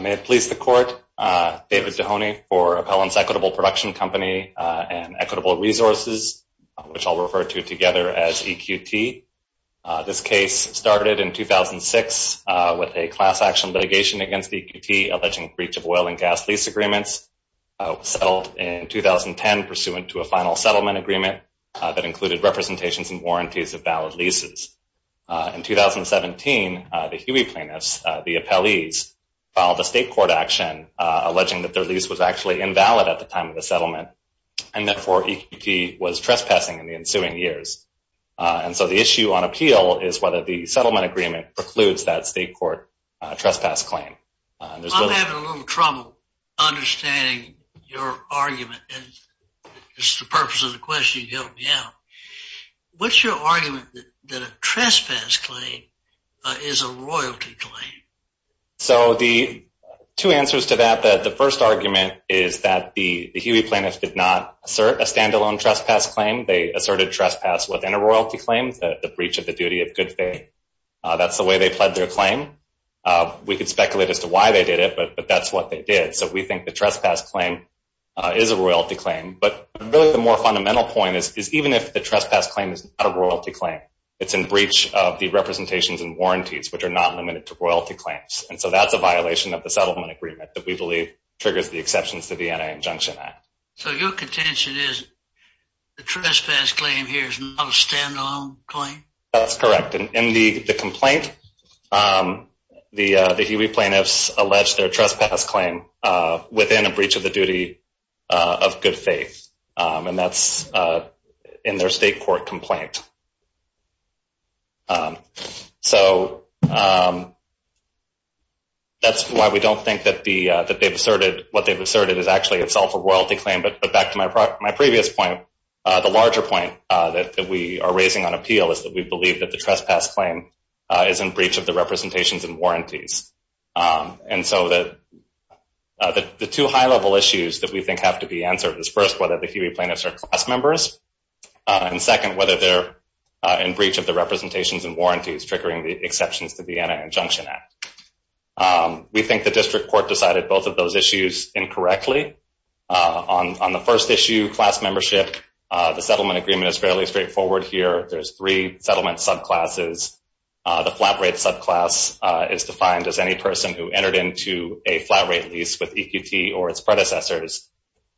May it please the court, David Dehoney for Appellants Equitable Production Company and Equitable Resources, which I'll refer to together as EQT. This case started in 2006 with a class action litigation against EQT alleging breach of oil and gas lease agreements. It was settled in 2010 pursuant to a final settlement agreement that included representations and warranties of valid leases. In 2017, the Huey plaintiffs, the appellees, filed a state court action alleging that their lease was actually invalid at the time of the settlement and therefore EQT was trespassing in the ensuing years. And so the issue on appeal is whether the settlement agreement precludes that state court trespass claim. I'm having a little trouble understanding your argument. It's the purpose of the question to help me out. What's your argument that a trespass claim is a royalty claim? So the two answers to that, the first argument is that the Huey plaintiffs did not assert a standalone trespass claim. They asserted trespass within a royalty claim, the breach of the duty of good faith. That's the way they pled their claim. We could speculate as to why they did it, but that's what they did. So we think the trespass claim is a royalty claim, but really the more fundamental point is even if the trespass claim is not a royalty claim, it's in breach of the representations and warranties, which are not limited to royalty claims. And so that's a violation of the settlement agreement that we believe triggers the exceptions to the Anti-Injunction Act. So your contention is the trespass claim here is not a standalone claim? That's correct. In the complaint, the Huey plaintiffs alleged their trespass claim within a breach of the duty of good faith. And that's in their state court complaint. So that's why we don't think that what they've asserted is actually itself a royalty claim. But back to my previous point, the larger point that we are raising on appeal is that we believe that the trespass claim is in breach of the representations and warranties. And so that the two high level issues that we think have to be answered is first, whether the Huey plaintiffs are class members, and second, whether they're in breach of the representations and warranties triggering the exceptions to the Anti-Injunction Act. We think the district court decided both of those issues incorrectly. On the first issue, class membership, the settlement agreement is fairly straightforward here. There's three settlement subclasses. The flat rate subclass is defined as any person who entered into a flat rate lease with EQT or its predecessors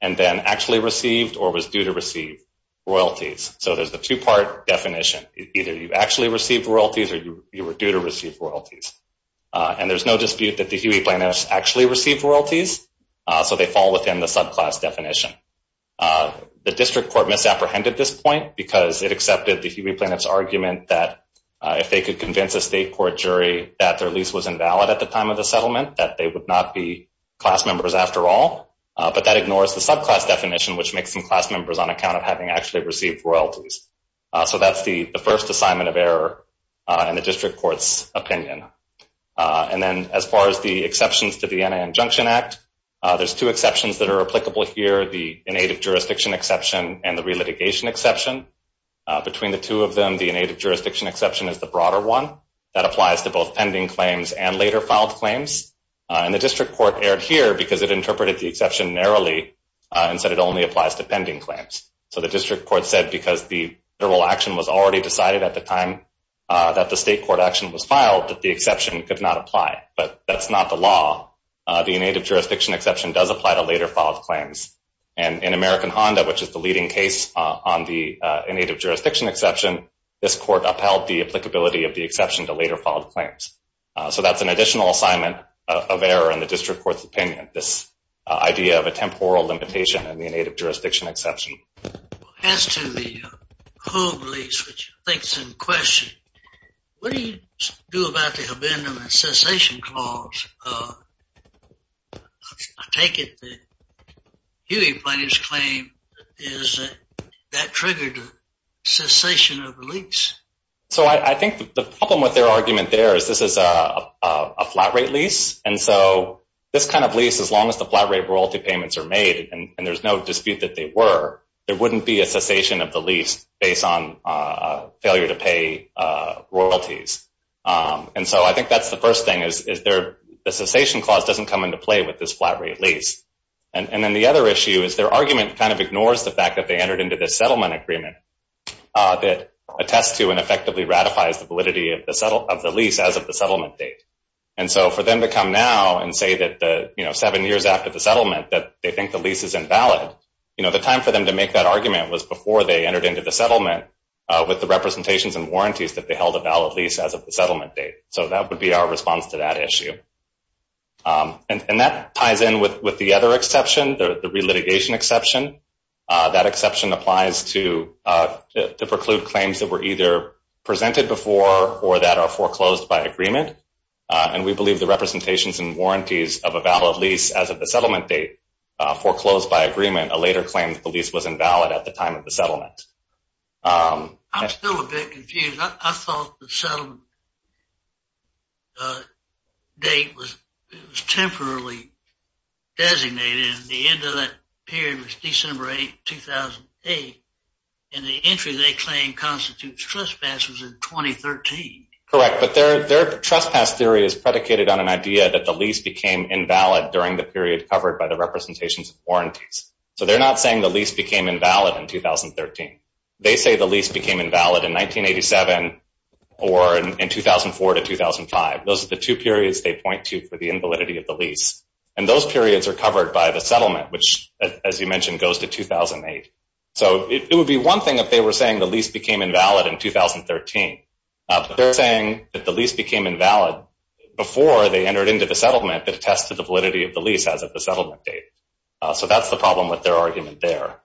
and then actually received or was due to receive royalties. So there's the two-part definition. Either you actually received royalties or you were due to receive royalties. And there's no dispute that the Huey plaintiffs actually received royalties, so they fall within the subclass definition. The district court misapprehended this point because it accepted the Huey plaintiffs' argument that if they could convince a state court jury that their lease was invalid at the time of the settlement, that they would not be class members after all. But that ignores the subclass definition, which makes them class members on account of having actually received royalties. So that's the first assignment of error in the district court's opinion. And then as far as the exceptions to the Anti-Injunction Act, there's two exceptions that are applicable here, the inactive jurisdiction exception and the relitigation exception. Between the two of them, the inactive jurisdiction exception is the broader one. That applies to both pending claims and later filed claims. And the district court erred here because it interpreted the exception narrowly and said it only applies to pending claims. So the district court said because the federal action was already decided at the time that the state court action was filed, that the exception could not apply. But that's not the law. The inactive jurisdiction exception does apply to later filed claims. And in American Honda, which is the leading case on the inactive jurisdiction exception, this court upheld the applicability of the exception to later filed claims. So that's an additional assignment of error in the district court's opinion, this idea of a temporal limitation in the inactive jurisdiction exception. As to the home lease, which I think is in question, what do you do about the abandonment cessation clause? I take it the Huey plaintiff's claim is that that triggered the cessation of the lease. So I think the problem with their argument there is this is a flat rate lease. And so this kind of lease, as long as the flat rate royalty payments are made and there's no dispute that they were, there wouldn't be a cessation of the lease based on failure to pay royalties. And so I think that's the first thing, is the cessation clause doesn't come into play with this flat rate lease. And then the other issue is their argument kind of ignores the fact that they entered into this settlement agreement that attests to and effectively ratifies the validity of the lease as of the settlement date. And so for them to come now and say that seven years after the settlement that they think the lease is invalid, the time for them to make that argument was before they entered into the settlement with the representations and warranties that they held a valid lease as of the settlement date. So that would be our response to that issue. And that ties in with the other exception, the relitigation exception. That exception applies to the preclude claims that were either presented before or that are foreclosed by agreement. And we believe the representations and warranties of a valid lease as of the settlement date foreclosed by agreement, a later claim that the lease was invalid at the time of the settlement. I'm still a bit confused. I thought the settlement date was temporarily designated and the end of that period was December 8, 2008, and the entry they claim constitutes trespass was in 2013. Correct, but their trespass theory is predicated on an idea that the lease became invalid during the period covered by the representations and warranties. So they're not saying the lease became invalid in 2013. They say the lease became invalid in 1987 or in 2004 to 2005. Those are the two periods they point to for the invalidity of the lease. And those periods are covered by the settlement, which, as you mentioned, goes to 2008. So it would be one thing if they were saying the lease became invalid in 2013, but they're saying that the lease became invalid before they entered into the settlement that attests to the validity of the lease as of the settlement date. So that's the problem with their argument there.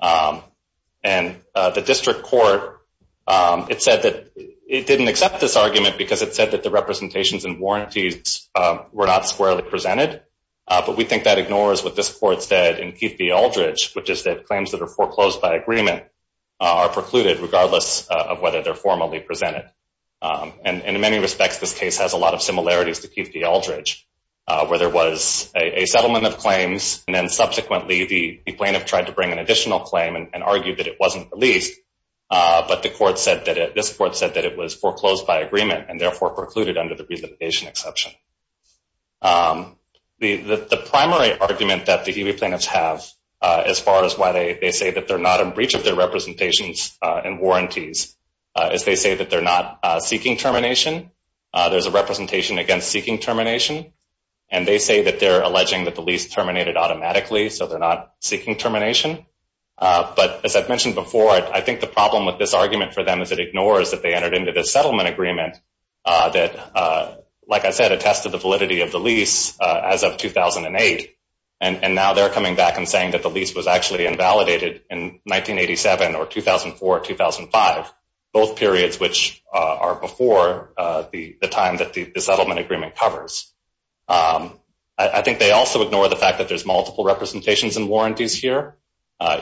And the district court, it said that it didn't accept this argument because it said that the representations and warranties were not squarely presented. But we think that ignores what this court said in Keith v. Aldridge, which is that claims that are foreclosed by agreement are precluded regardless of whether they're formally presented. And in many respects, this case has a lot of similarities to Keith v. Aldridge, where there was a settlement of claims, and then subsequently the plaintiff tried to bring an additional claim and argued that it wasn't released. But this court said that it was foreclosed by agreement and therefore precluded under the relimitation exception. The primary argument that the E.B. plaintiffs have as far as why they say that they're not in breach of their representations and warranties is they say that they're not seeking termination. There's a representation against seeking termination. And they say that they're alleging that the lease terminated automatically, so they're not seeking termination. But as I've mentioned before, I think the problem with this argument for them is it ignores that they entered into this settlement agreement that, like I said, attested the validity of the lease as of 2008. And now they're coming back and saying that the lease was actually invalidated in 1987 or 2004 or 2005, both periods which are before the time that the settlement agreement covers. I think they also ignore the fact that there's multiple representations and warranties here.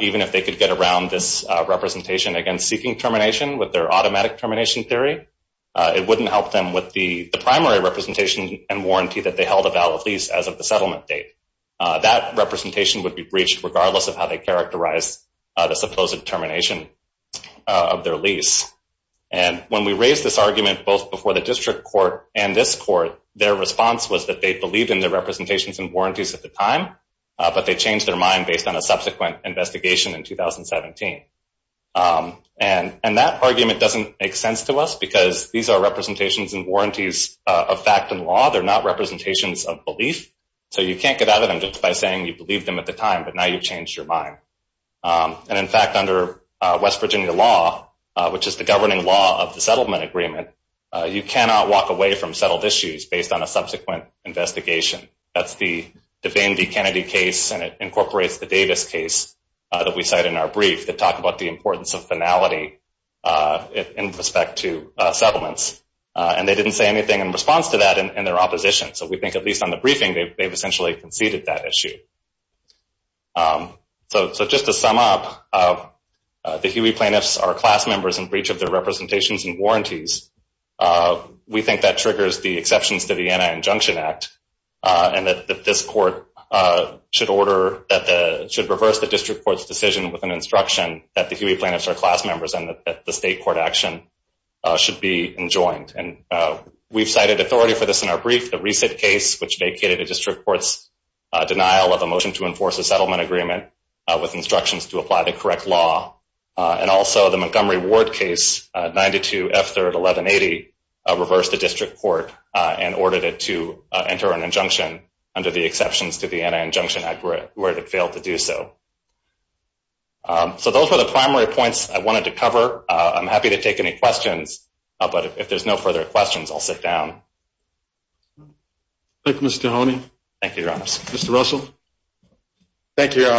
Even if they could get around this representation against seeking termination with their automatic termination theory, it wouldn't help them with the primary representation and warranty that they held a valid lease as of the settlement date. That representation would be breached regardless of how they characterize the supposed termination of their lease. And when we raised this argument both before the district court and this court, their response was that they believed in their representations and warranties at the time, but they changed their mind based on a subsequent investigation in 2017. And that argument doesn't make sense to us because these are representations and warranties of fact and law. They're not representations of belief. So you can't get out of them just by saying you believed them at the time, but now you've changed your mind. And in fact, under West Virginia law, which is the governing law of the settlement agreement, you cannot walk away from settled issues based on a subsequent investigation. That's the DeVane v. Kennedy case, and it incorporates the Davis case that we cite in our brief that talked about the importance of finality in respect to settlements. And they didn't say anything in response to that in their opposition. So we think at least on the briefing they've essentially conceded that issue. So just to sum up, the Huey plaintiffs are class members in breach of their representations and warranties. We think that triggers the exceptions to the Anti-Injunction Act and that this court should reverse the district court's decision with an instruction that the Huey plaintiffs are class members and that the state court action should be enjoined. And we've cited authority for this in our brief, the Resit case, which vacated the district court's denial of a motion to enforce a settlement agreement with instructions to apply the correct law. And also the Montgomery Ward case, 92 F. 3rd, 1180, reversed the district court and ordered it to enter an injunction under the exceptions to the Anti-Injunction Act where it failed to do so. So those were the primary points I wanted to cover. I'm happy to take any questions. But if there's no further questions, I'll sit down. Thank you, Mr. Honey. Thank you, Your Honor. Mr. Russell. Thank you, Your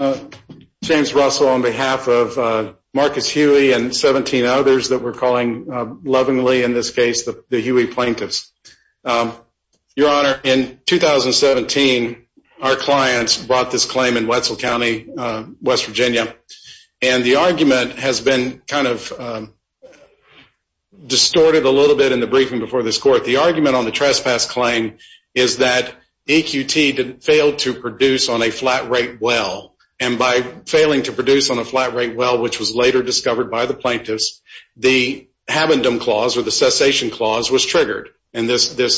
Honor. James Russell on behalf of Marcus Huey and 17 others that we're calling lovingly in this case the Huey plaintiffs. Your Honor, in 2017 our clients brought this claim in Wetzel County, West Virginia. And the argument has been kind of distorted a little bit in the briefing before this court. The argument on the trespass claim is that EQT failed to produce on a flat rate well. And by failing to produce on a flat rate well, which was later discovered by the plaintiffs, the habendum clause or the cessation clause was triggered. And this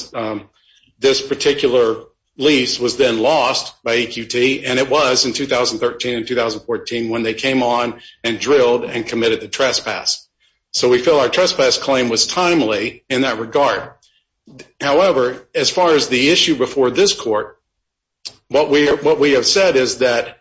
particular lease was then lost by EQT. And it was in 2013 and 2014 when they came on and drilled and committed the trespass. So we feel our trespass claim was timely in that regard. However, as far as the issue before this court, what we have said is that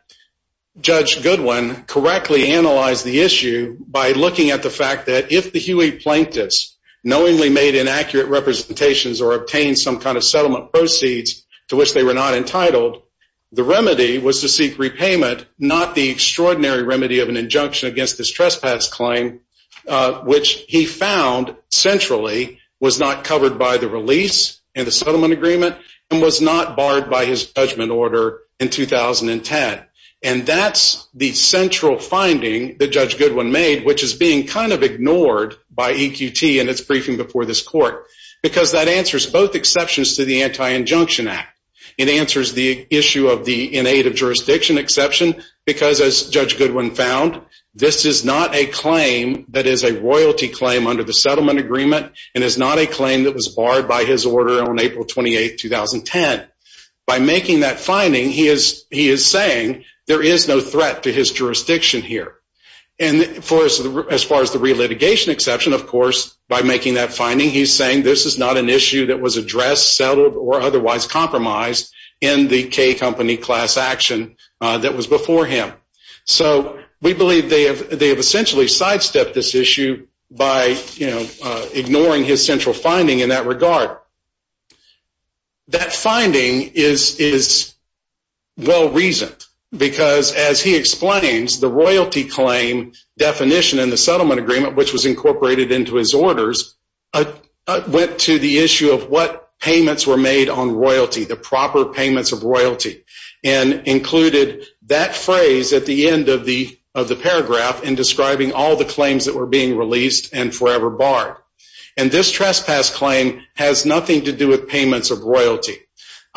Judge Goodwin correctly analyzed the issue by looking at the fact that if the Huey plaintiffs knowingly made inaccurate representations or obtained some kind of settlement proceeds to which they were not entitled, the remedy was to seek repayment, not the extraordinary remedy of an injunction against this trespass claim, which he found centrally was not covered by the release and the settlement agreement and was not barred by his judgment order in 2010. And that's the central finding that Judge Goodwin made, which is being kind of ignored by EQT and its briefing before this court because that answers both exceptions to the Anti-Injunction Act. It answers the issue of the innate of jurisdiction exception because, as Judge Goodwin found, this is not a claim that is a royalty claim under the settlement agreement and is not a claim that was barred by his order on April 28, 2010. By making that finding, he is saying there is no threat to his jurisdiction here. And as far as the relitigation exception, of course, by making that finding, he is saying this is not an issue that was addressed, settled, or otherwise compromised in the K Company class action that was before him. So we believe they have essentially sidestepped this issue by ignoring his central finding in that regard. That finding is well-reasoned because, as he explains, the royalty claim definition in the settlement agreement, which was incorporated into his orders, went to the issue of what payments were made on royalty, the proper payments of royalty, and included that phrase at the end of the paragraph in describing all the claims that were being released and forever barred. And this trespass claim has nothing to do with payments of royalty.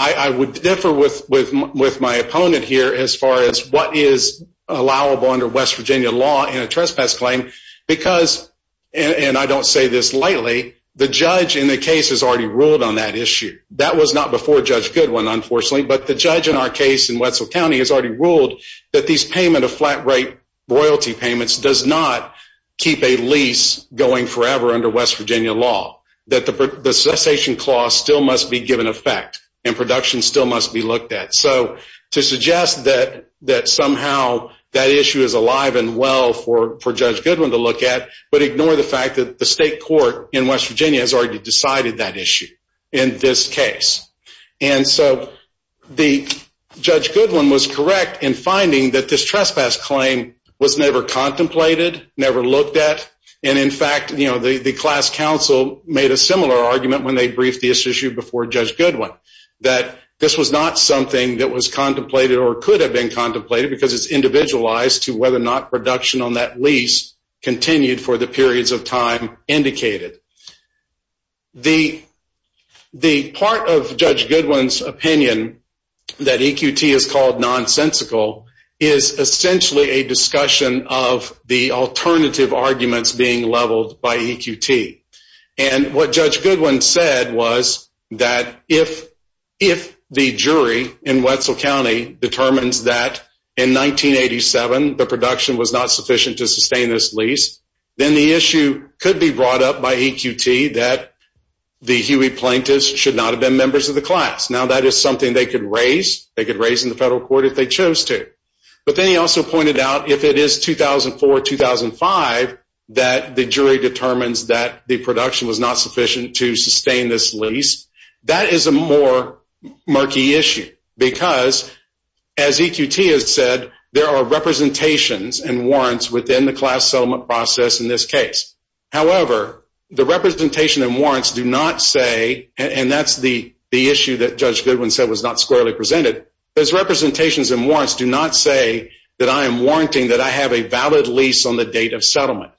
I would differ with my opponent here as far as what is allowable under West Virginia law in a trespass claim because, and I don't say this lightly, the judge in the case has already ruled on that issue. That was not before Judge Goodwin, unfortunately, but the judge in our case in Wetzel County has already ruled that these payment of flat rate royalty payments does not keep a lease going forever under West Virginia law, that the cessation clause still must be given effect and production still must be looked at. So to suggest that somehow that issue is alive and well for Judge Goodwin to look at, but ignore the fact that the state court in West Virginia has already decided that issue in this case. And so Judge Goodwin was correct in finding that this trespass claim was never contemplated, never looked at, and in fact the class counsel made a similar argument when they briefed the issue before Judge Goodwin, that this was not something that was contemplated or could have been contemplated because it's individualized to whether or not production on that lease continued for the periods of time indicated. The part of Judge Goodwin's opinion that EQT is called nonsensical is essentially a discussion of the alternative arguments being leveled by EQT. And what Judge Goodwin said was that if the jury in Wetzel County determines that in 1987 the production was not sufficient to sustain this lease, then the issue could be brought up by EQT that the Huey plaintiffs should not have been members of the class. Now that is something they could raise. They could raise in the federal court if they chose to. But then he also pointed out if it is 2004, 2005, that the jury determines that the production was not sufficient to sustain this lease, that is a more murky issue because as EQT has said, there are representations and warrants within the class settlement process in this case. However, the representation and warrants do not say, and that's the issue that Judge Goodwin said was not squarely presented, those representations and warrants do not say that I am warranting that I have a valid lease on the date of settlement.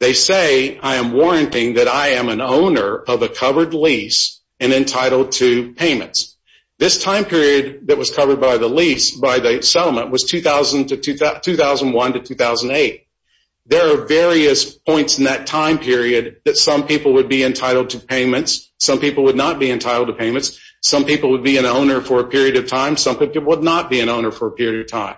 They say I am warranting that I am an owner of a covered lease and entitled to payments. This time period that was covered by the lease, by the settlement, was 2001 to 2008. There are various points in that time period that some people would be entitled to payments, some people would not be entitled to payments, some people would be an owner for a period of time, some people would not be an owner for a period of time.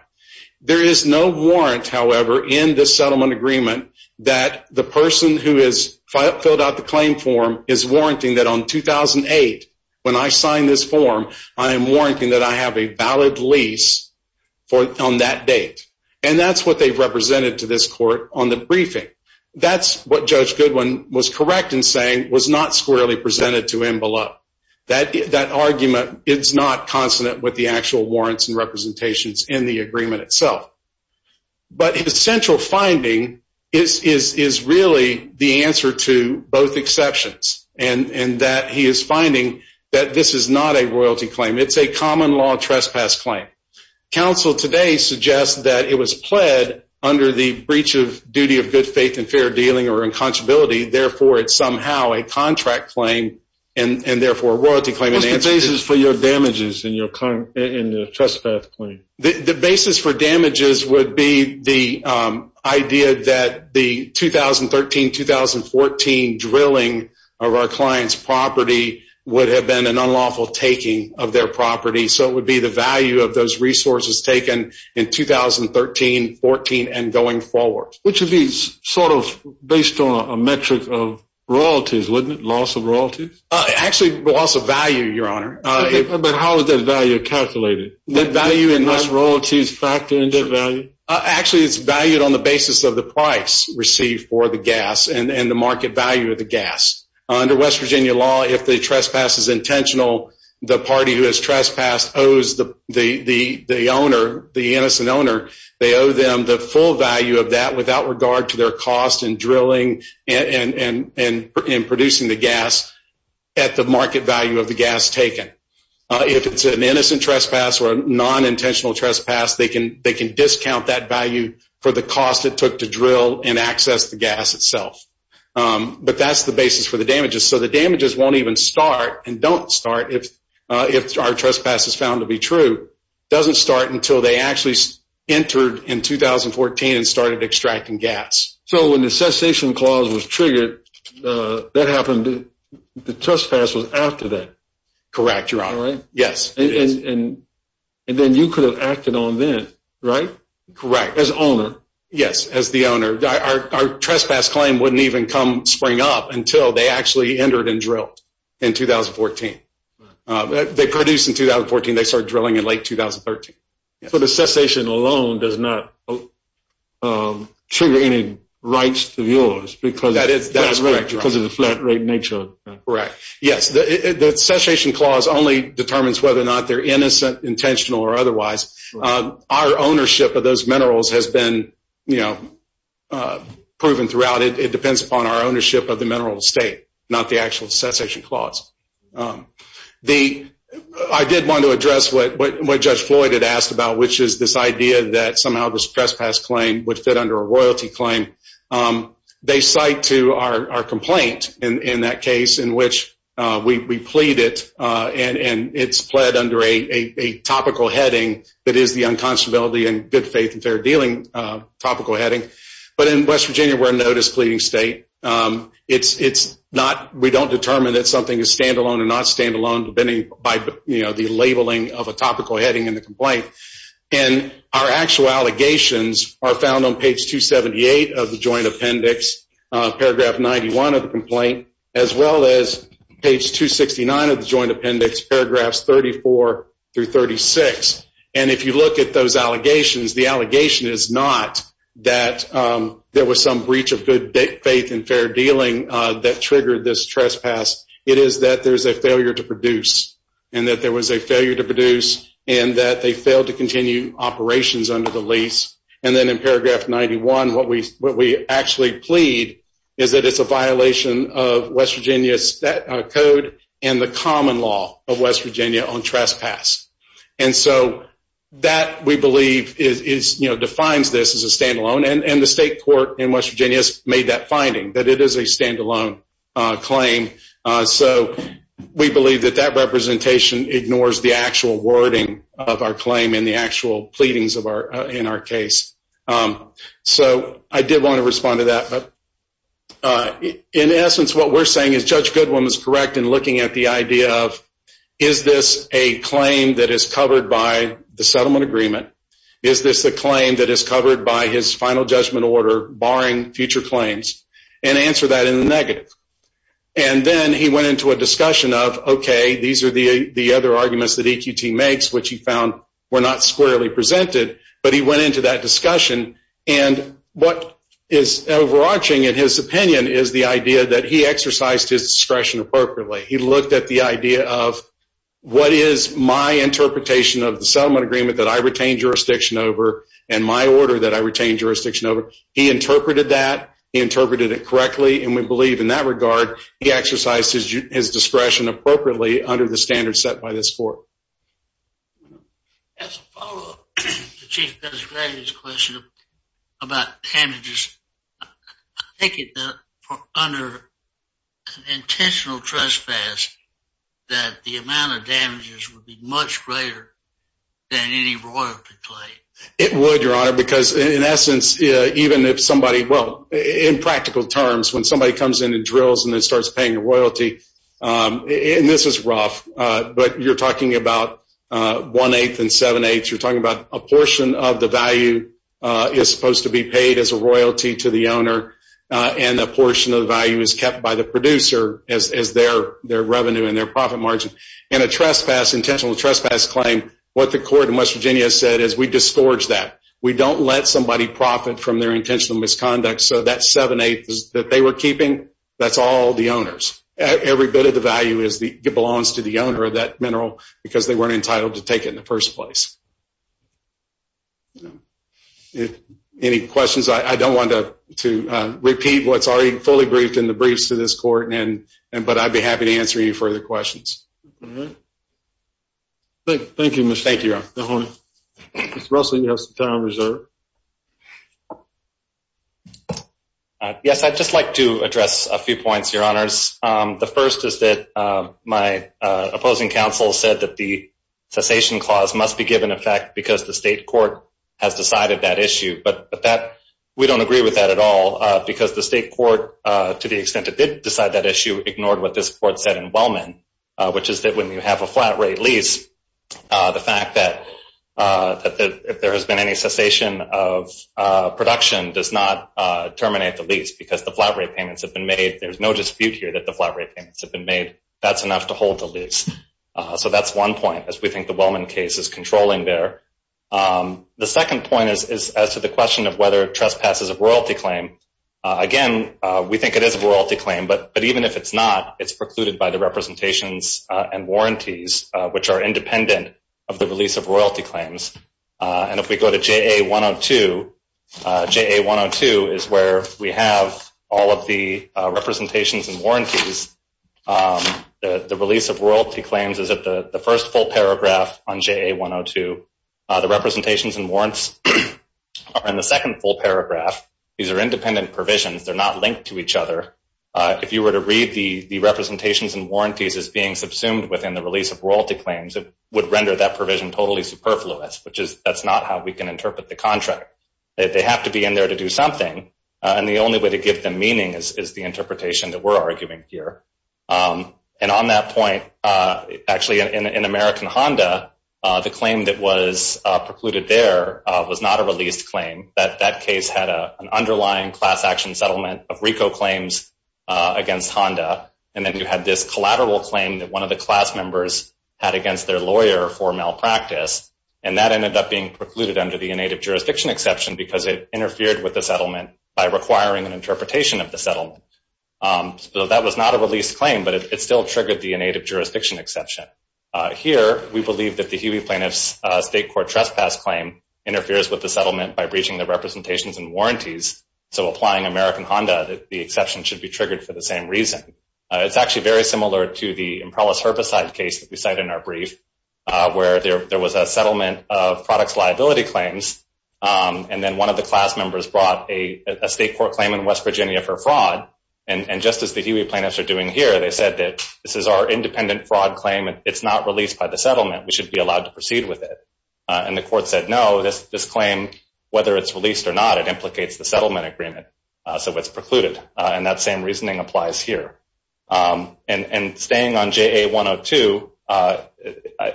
There is no warrant, however, in the settlement agreement that the person who has filled out the claim form is warranting that on 2008 when I sign this form, I am warranting that I have a valid lease on that date. And that's what they've represented to this court on the briefing. That's what Judge Goodwin was correct in saying was not squarely presented to Envelope. That argument is not consonant with the actual warrants and representations in the agreement itself. But his central finding is really the answer to both exceptions and that he is finding that this is not a royalty claim. It's a common law trespass claim. Counsel today suggests that it was pled under the breach of duty of good faith and fair dealing or inconsolability. Therefore, it's somehow a contract claim and therefore a royalty claim. What's the basis for your damages in the trespass claim? The basis for damages would be the idea that the 2013-2014 drilling of our client's property would have been an unlawful taking of their property. So it would be the value of those resources taken in 2013-2014 and going forward. Which would be sort of based on a metric of royalties, wouldn't it? Loss of royalties? Actually, loss of value, Your Honor. But how is that value calculated? Does the loss of royalties factor into the value? Actually, it's valued on the basis of the price received for the gas and the market value of the gas. Under West Virginia law, if the trespass is intentional, the party who has trespassed owes the owner, the innocent owner, they owe them the full value of that without regard to their cost in drilling and producing the gas at the market value of the gas taken. If it's an innocent trespass or a non-intentional trespass, they can discount that value for the cost it took to drill and access the gas itself. But that's the basis for the damages. So the damages won't even start and don't start if our trespass is found to be true. It doesn't start until they actually entered in 2014 and started extracting gas. So when the cessation clause was triggered, the trespass was after that? Correct, Your Honor. And then you could have acted on then, right? Correct. As owner? Yes, as the owner. Our trespass claim wouldn't even come spring up until they actually entered and drilled in 2014. They produced in 2014. They started drilling in late 2013. So the cessation alone does not trigger any rights of yours because of the flat rate nature of that? Correct. Yes, the cessation clause only determines whether or not they're innocent, intentional, or otherwise. Our ownership of those minerals has been proven throughout. It depends upon our ownership of the mineral estate, not the actual cessation clause. I did want to address what Judge Floyd had asked about, which is this idea that somehow this trespass claim would fit under a royalty claim. They cite to our complaint in that case in which we plead it, and it's pled under a topical heading that is the unconscionability and good faith and fair dealing topical heading. But in West Virginia, we're a notice pleading state. We don't determine that something is standalone or not standalone by the labeling of a topical heading in the complaint. Our actual allegations are found on page 278 of the joint appendix, paragraph 91 of the complaint, as well as page 269 of the joint appendix, paragraphs 34 through 36. If you look at those allegations, the allegation is not that there was some breach of good faith and fair dealing that triggered this trespass. It is that there's a failure to produce, and that there was a failure to produce, and that they failed to continue operations under the lease. And then in paragraph 91, what we actually plead is that it's a violation of West Virginia's code and the common law of West Virginia on trespass. And so that, we believe, defines this as a standalone. And the state court in West Virginia has made that finding, that it is a standalone claim. So we believe that that representation ignores the actual wording of our claim and the actual pleadings in our case. So I did want to respond to that. But in essence, what we're saying is Judge Goodwin was correct in looking at the idea of, is this a claim that is covered by the settlement agreement? Is this a claim that is covered by his final judgment order barring future claims? And answer that in the negative. And then he went into a discussion of, okay, these are the other arguments that EQT makes, which he found were not squarely presented, but he went into that discussion. And what is overarching in his opinion is the idea that he exercised his discretion appropriately. He looked at the idea of, what is my interpretation of the settlement agreement that I retain jurisdiction over and my order that I retain jurisdiction over? He interpreted that. He interpreted it correctly. And we believe, in that regard, he exercised his discretion appropriately under the standards set by this court. As a follow-up to Chief Judge Grady's question about damages, I take it that under an intentional trespass that the amount of damages would be much greater than any royalty claim. It would, Your Honor, because in essence, even if somebody, well, in practical terms, when somebody comes in and drills and then starts paying the royalty, and this is rough, but you're talking about one-eighth and seven-eighths. You're talking about a portion of the value is supposed to be paid as a royalty to the owner, and a portion of the value is kept by the producer as their revenue and their profit margin. In a trespass, intentional trespass claim, what the court in West Virginia said is, we disgorge that. We don't let somebody profit from their intentional misconduct. So that seven-eighths that they were keeping, that's all the owner's. Every bit of the value belongs to the owner of that mineral, because they weren't entitled to take it in the first place. Any questions? I don't want to repeat what's already fully briefed in the briefs to this court, but I'd be happy to answer any further questions. Thank you, Mr. Mahoney. Mr. Russell, you have some time reserved. Yes, I'd just like to address a few points, Your Honors. The first is that my opposing counsel said that the cessation clause must be given effect because the state court has decided that issue. But we don't agree with that at all, because the state court, to the extent it did decide that issue, ignored what this court said in Wellman, which is that when you have a flat-rate lease, the fact that there has been any cessation of production does not terminate the lease, because the flat-rate payments have been made. There's no dispute here that the flat-rate payments have been made. That's enough to hold the lease. So that's one point, as we think the Wellman case is controlling there. The second point is as to the question of whether trespass is a royalty claim. Again, we think it is a royalty claim, but even if it's not, it's precluded by the representations and warranties, which are independent of the release of royalty claims. And if we go to JA-102, JA-102 is where we have all of the representations and warranties. The release of royalty claims is at the first full paragraph on JA-102. The representations and warrants are in the second full paragraph. These are independent provisions. They're not linked to each other. If you were to read the representations and warranties as being subsumed within the release of royalty claims, it would render that provision totally superfluous, which is that's not how we can interpret the contract. They have to be in there to do something, and the only way to give them meaning is the interpretation that we're arguing here. And on that point, actually, in American Honda, the claim that was precluded there was not a released claim. That case had an underlying class-action settlement of RICO claims against Honda, and then you had this collateral claim that one of the class members had against their lawyer for malpractice, and that ended up being precluded under the inactive jurisdiction exception because it interfered with the settlement by requiring an interpretation of the settlement. So that was not a released claim, but it still triggered the inactive jurisdiction exception. Here, we believe that the Huey plaintiff's state court trespass claim interferes with the settlement by breaching the representations and warranties, so applying American Honda, the exception should be triggered for the same reason. It's actually very similar to the Imperialist herbicide case that we cite in our brief, where there was a settlement of products liability claims, and then one of the class members brought a state court claim in West Virginia for fraud, and just as the Huey plaintiffs are doing here, they said that this is our independent fraud claim, and it's not released by the settlement. We should be allowed to proceed with it, and the court said no. This claim, whether it's released or not, it implicates the settlement agreement, so it's precluded, and that same reasoning applies here. And staying on JA-102, I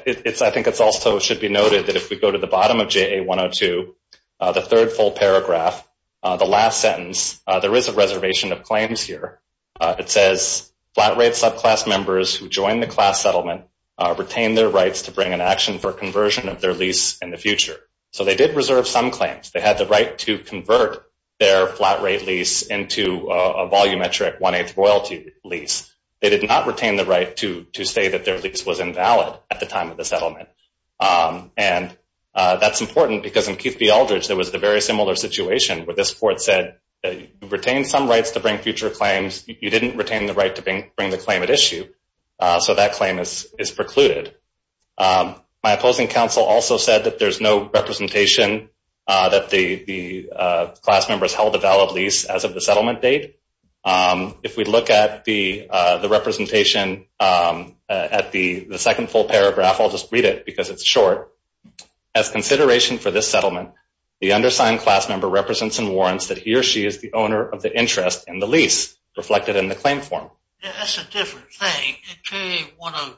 think it also should be noted that if we go to the bottom of JA-102, the third full paragraph, the last sentence, there is a reservation of claims here. It says, flat-rate subclass members who join the class settlement retain their rights to bring an action for conversion of their lease in the future. So they did reserve some claims. They had the right to convert their flat-rate lease into a volumetric one-eighth royalty lease. They did not retain the right to say that their lease was invalid at the time of the settlement, and that's important because in Keith v. Aldridge, there was a very similar situation where this court said you retain some rights to bring future claims. You didn't retain the right to bring the claim at issue, so that claim is precluded. My opposing counsel also said that there's no representation that the class member has held a valid lease as of the settlement date. If we look at the representation at the second full paragraph, I'll just read it because it's short. As consideration for this settlement, the undersigned class member represents and warrants that he or she is the owner of the interest in the lease reflected in the claim form. That's a different thing. In JA-101,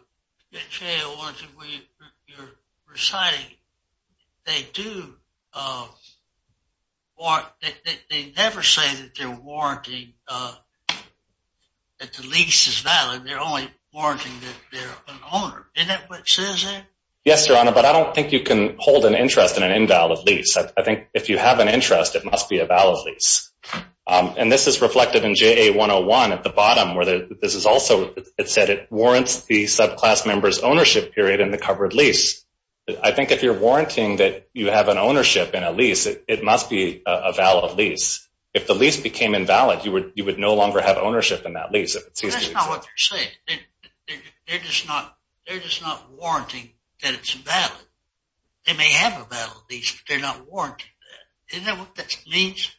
where you're reciting, they never say that they're warranting that the lease is valid. They're only warranting that they're an owner. Isn't that what it says there? Yes, Your Honor, but I don't think you can hold an interest in an invalid lease. I think if you have an interest, it must be a valid lease. This is reflected in JA-101 at the bottom where it said it warrants the subclass member's ownership period in the covered lease. I think if you're warranting that you have an ownership in a lease, it must be a valid lease. If the lease became invalid, you would no longer have ownership in that lease. That's not what they're saying. They're just not warranting that it's valid. They may have a valid lease, but they're not warranting that. Isn't that what that means?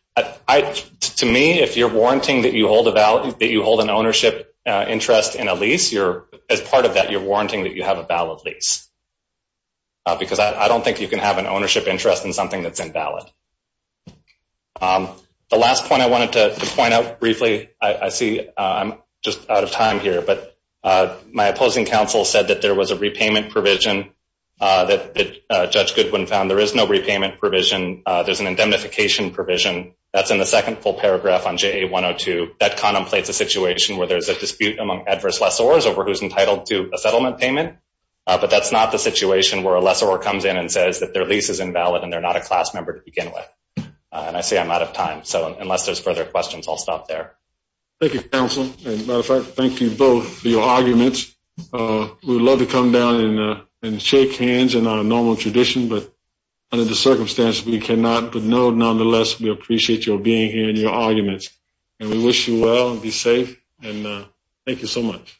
To me, if you're warranting that you hold an ownership interest in a lease, as part of that, you're warranting that you have a valid lease, because I don't think you can have an ownership interest in something that's invalid. The last point I wanted to point out briefly, I see I'm just out of time here, but my opposing counsel said that there was a repayment provision that Judge Goodwin found. There is no repayment provision. There's an indemnification provision. That's in the second full paragraph on JA-102. That contemplates a situation where there's a dispute among adverse lessors over who's entitled to a settlement payment, but that's not the situation where a lessor comes in and says that their lease is invalid and they're not a class member to begin with. I see I'm out of time, so unless there's further questions, I'll stop there. Thank you, counsel. As a matter of fact, thank you both for your arguments. We would love to come down and shake hands in our normal tradition, but under the circumstances, we cannot. But, no, nonetheless, we appreciate your being here and your arguments, and we wish you well. Be safe, and thank you so much.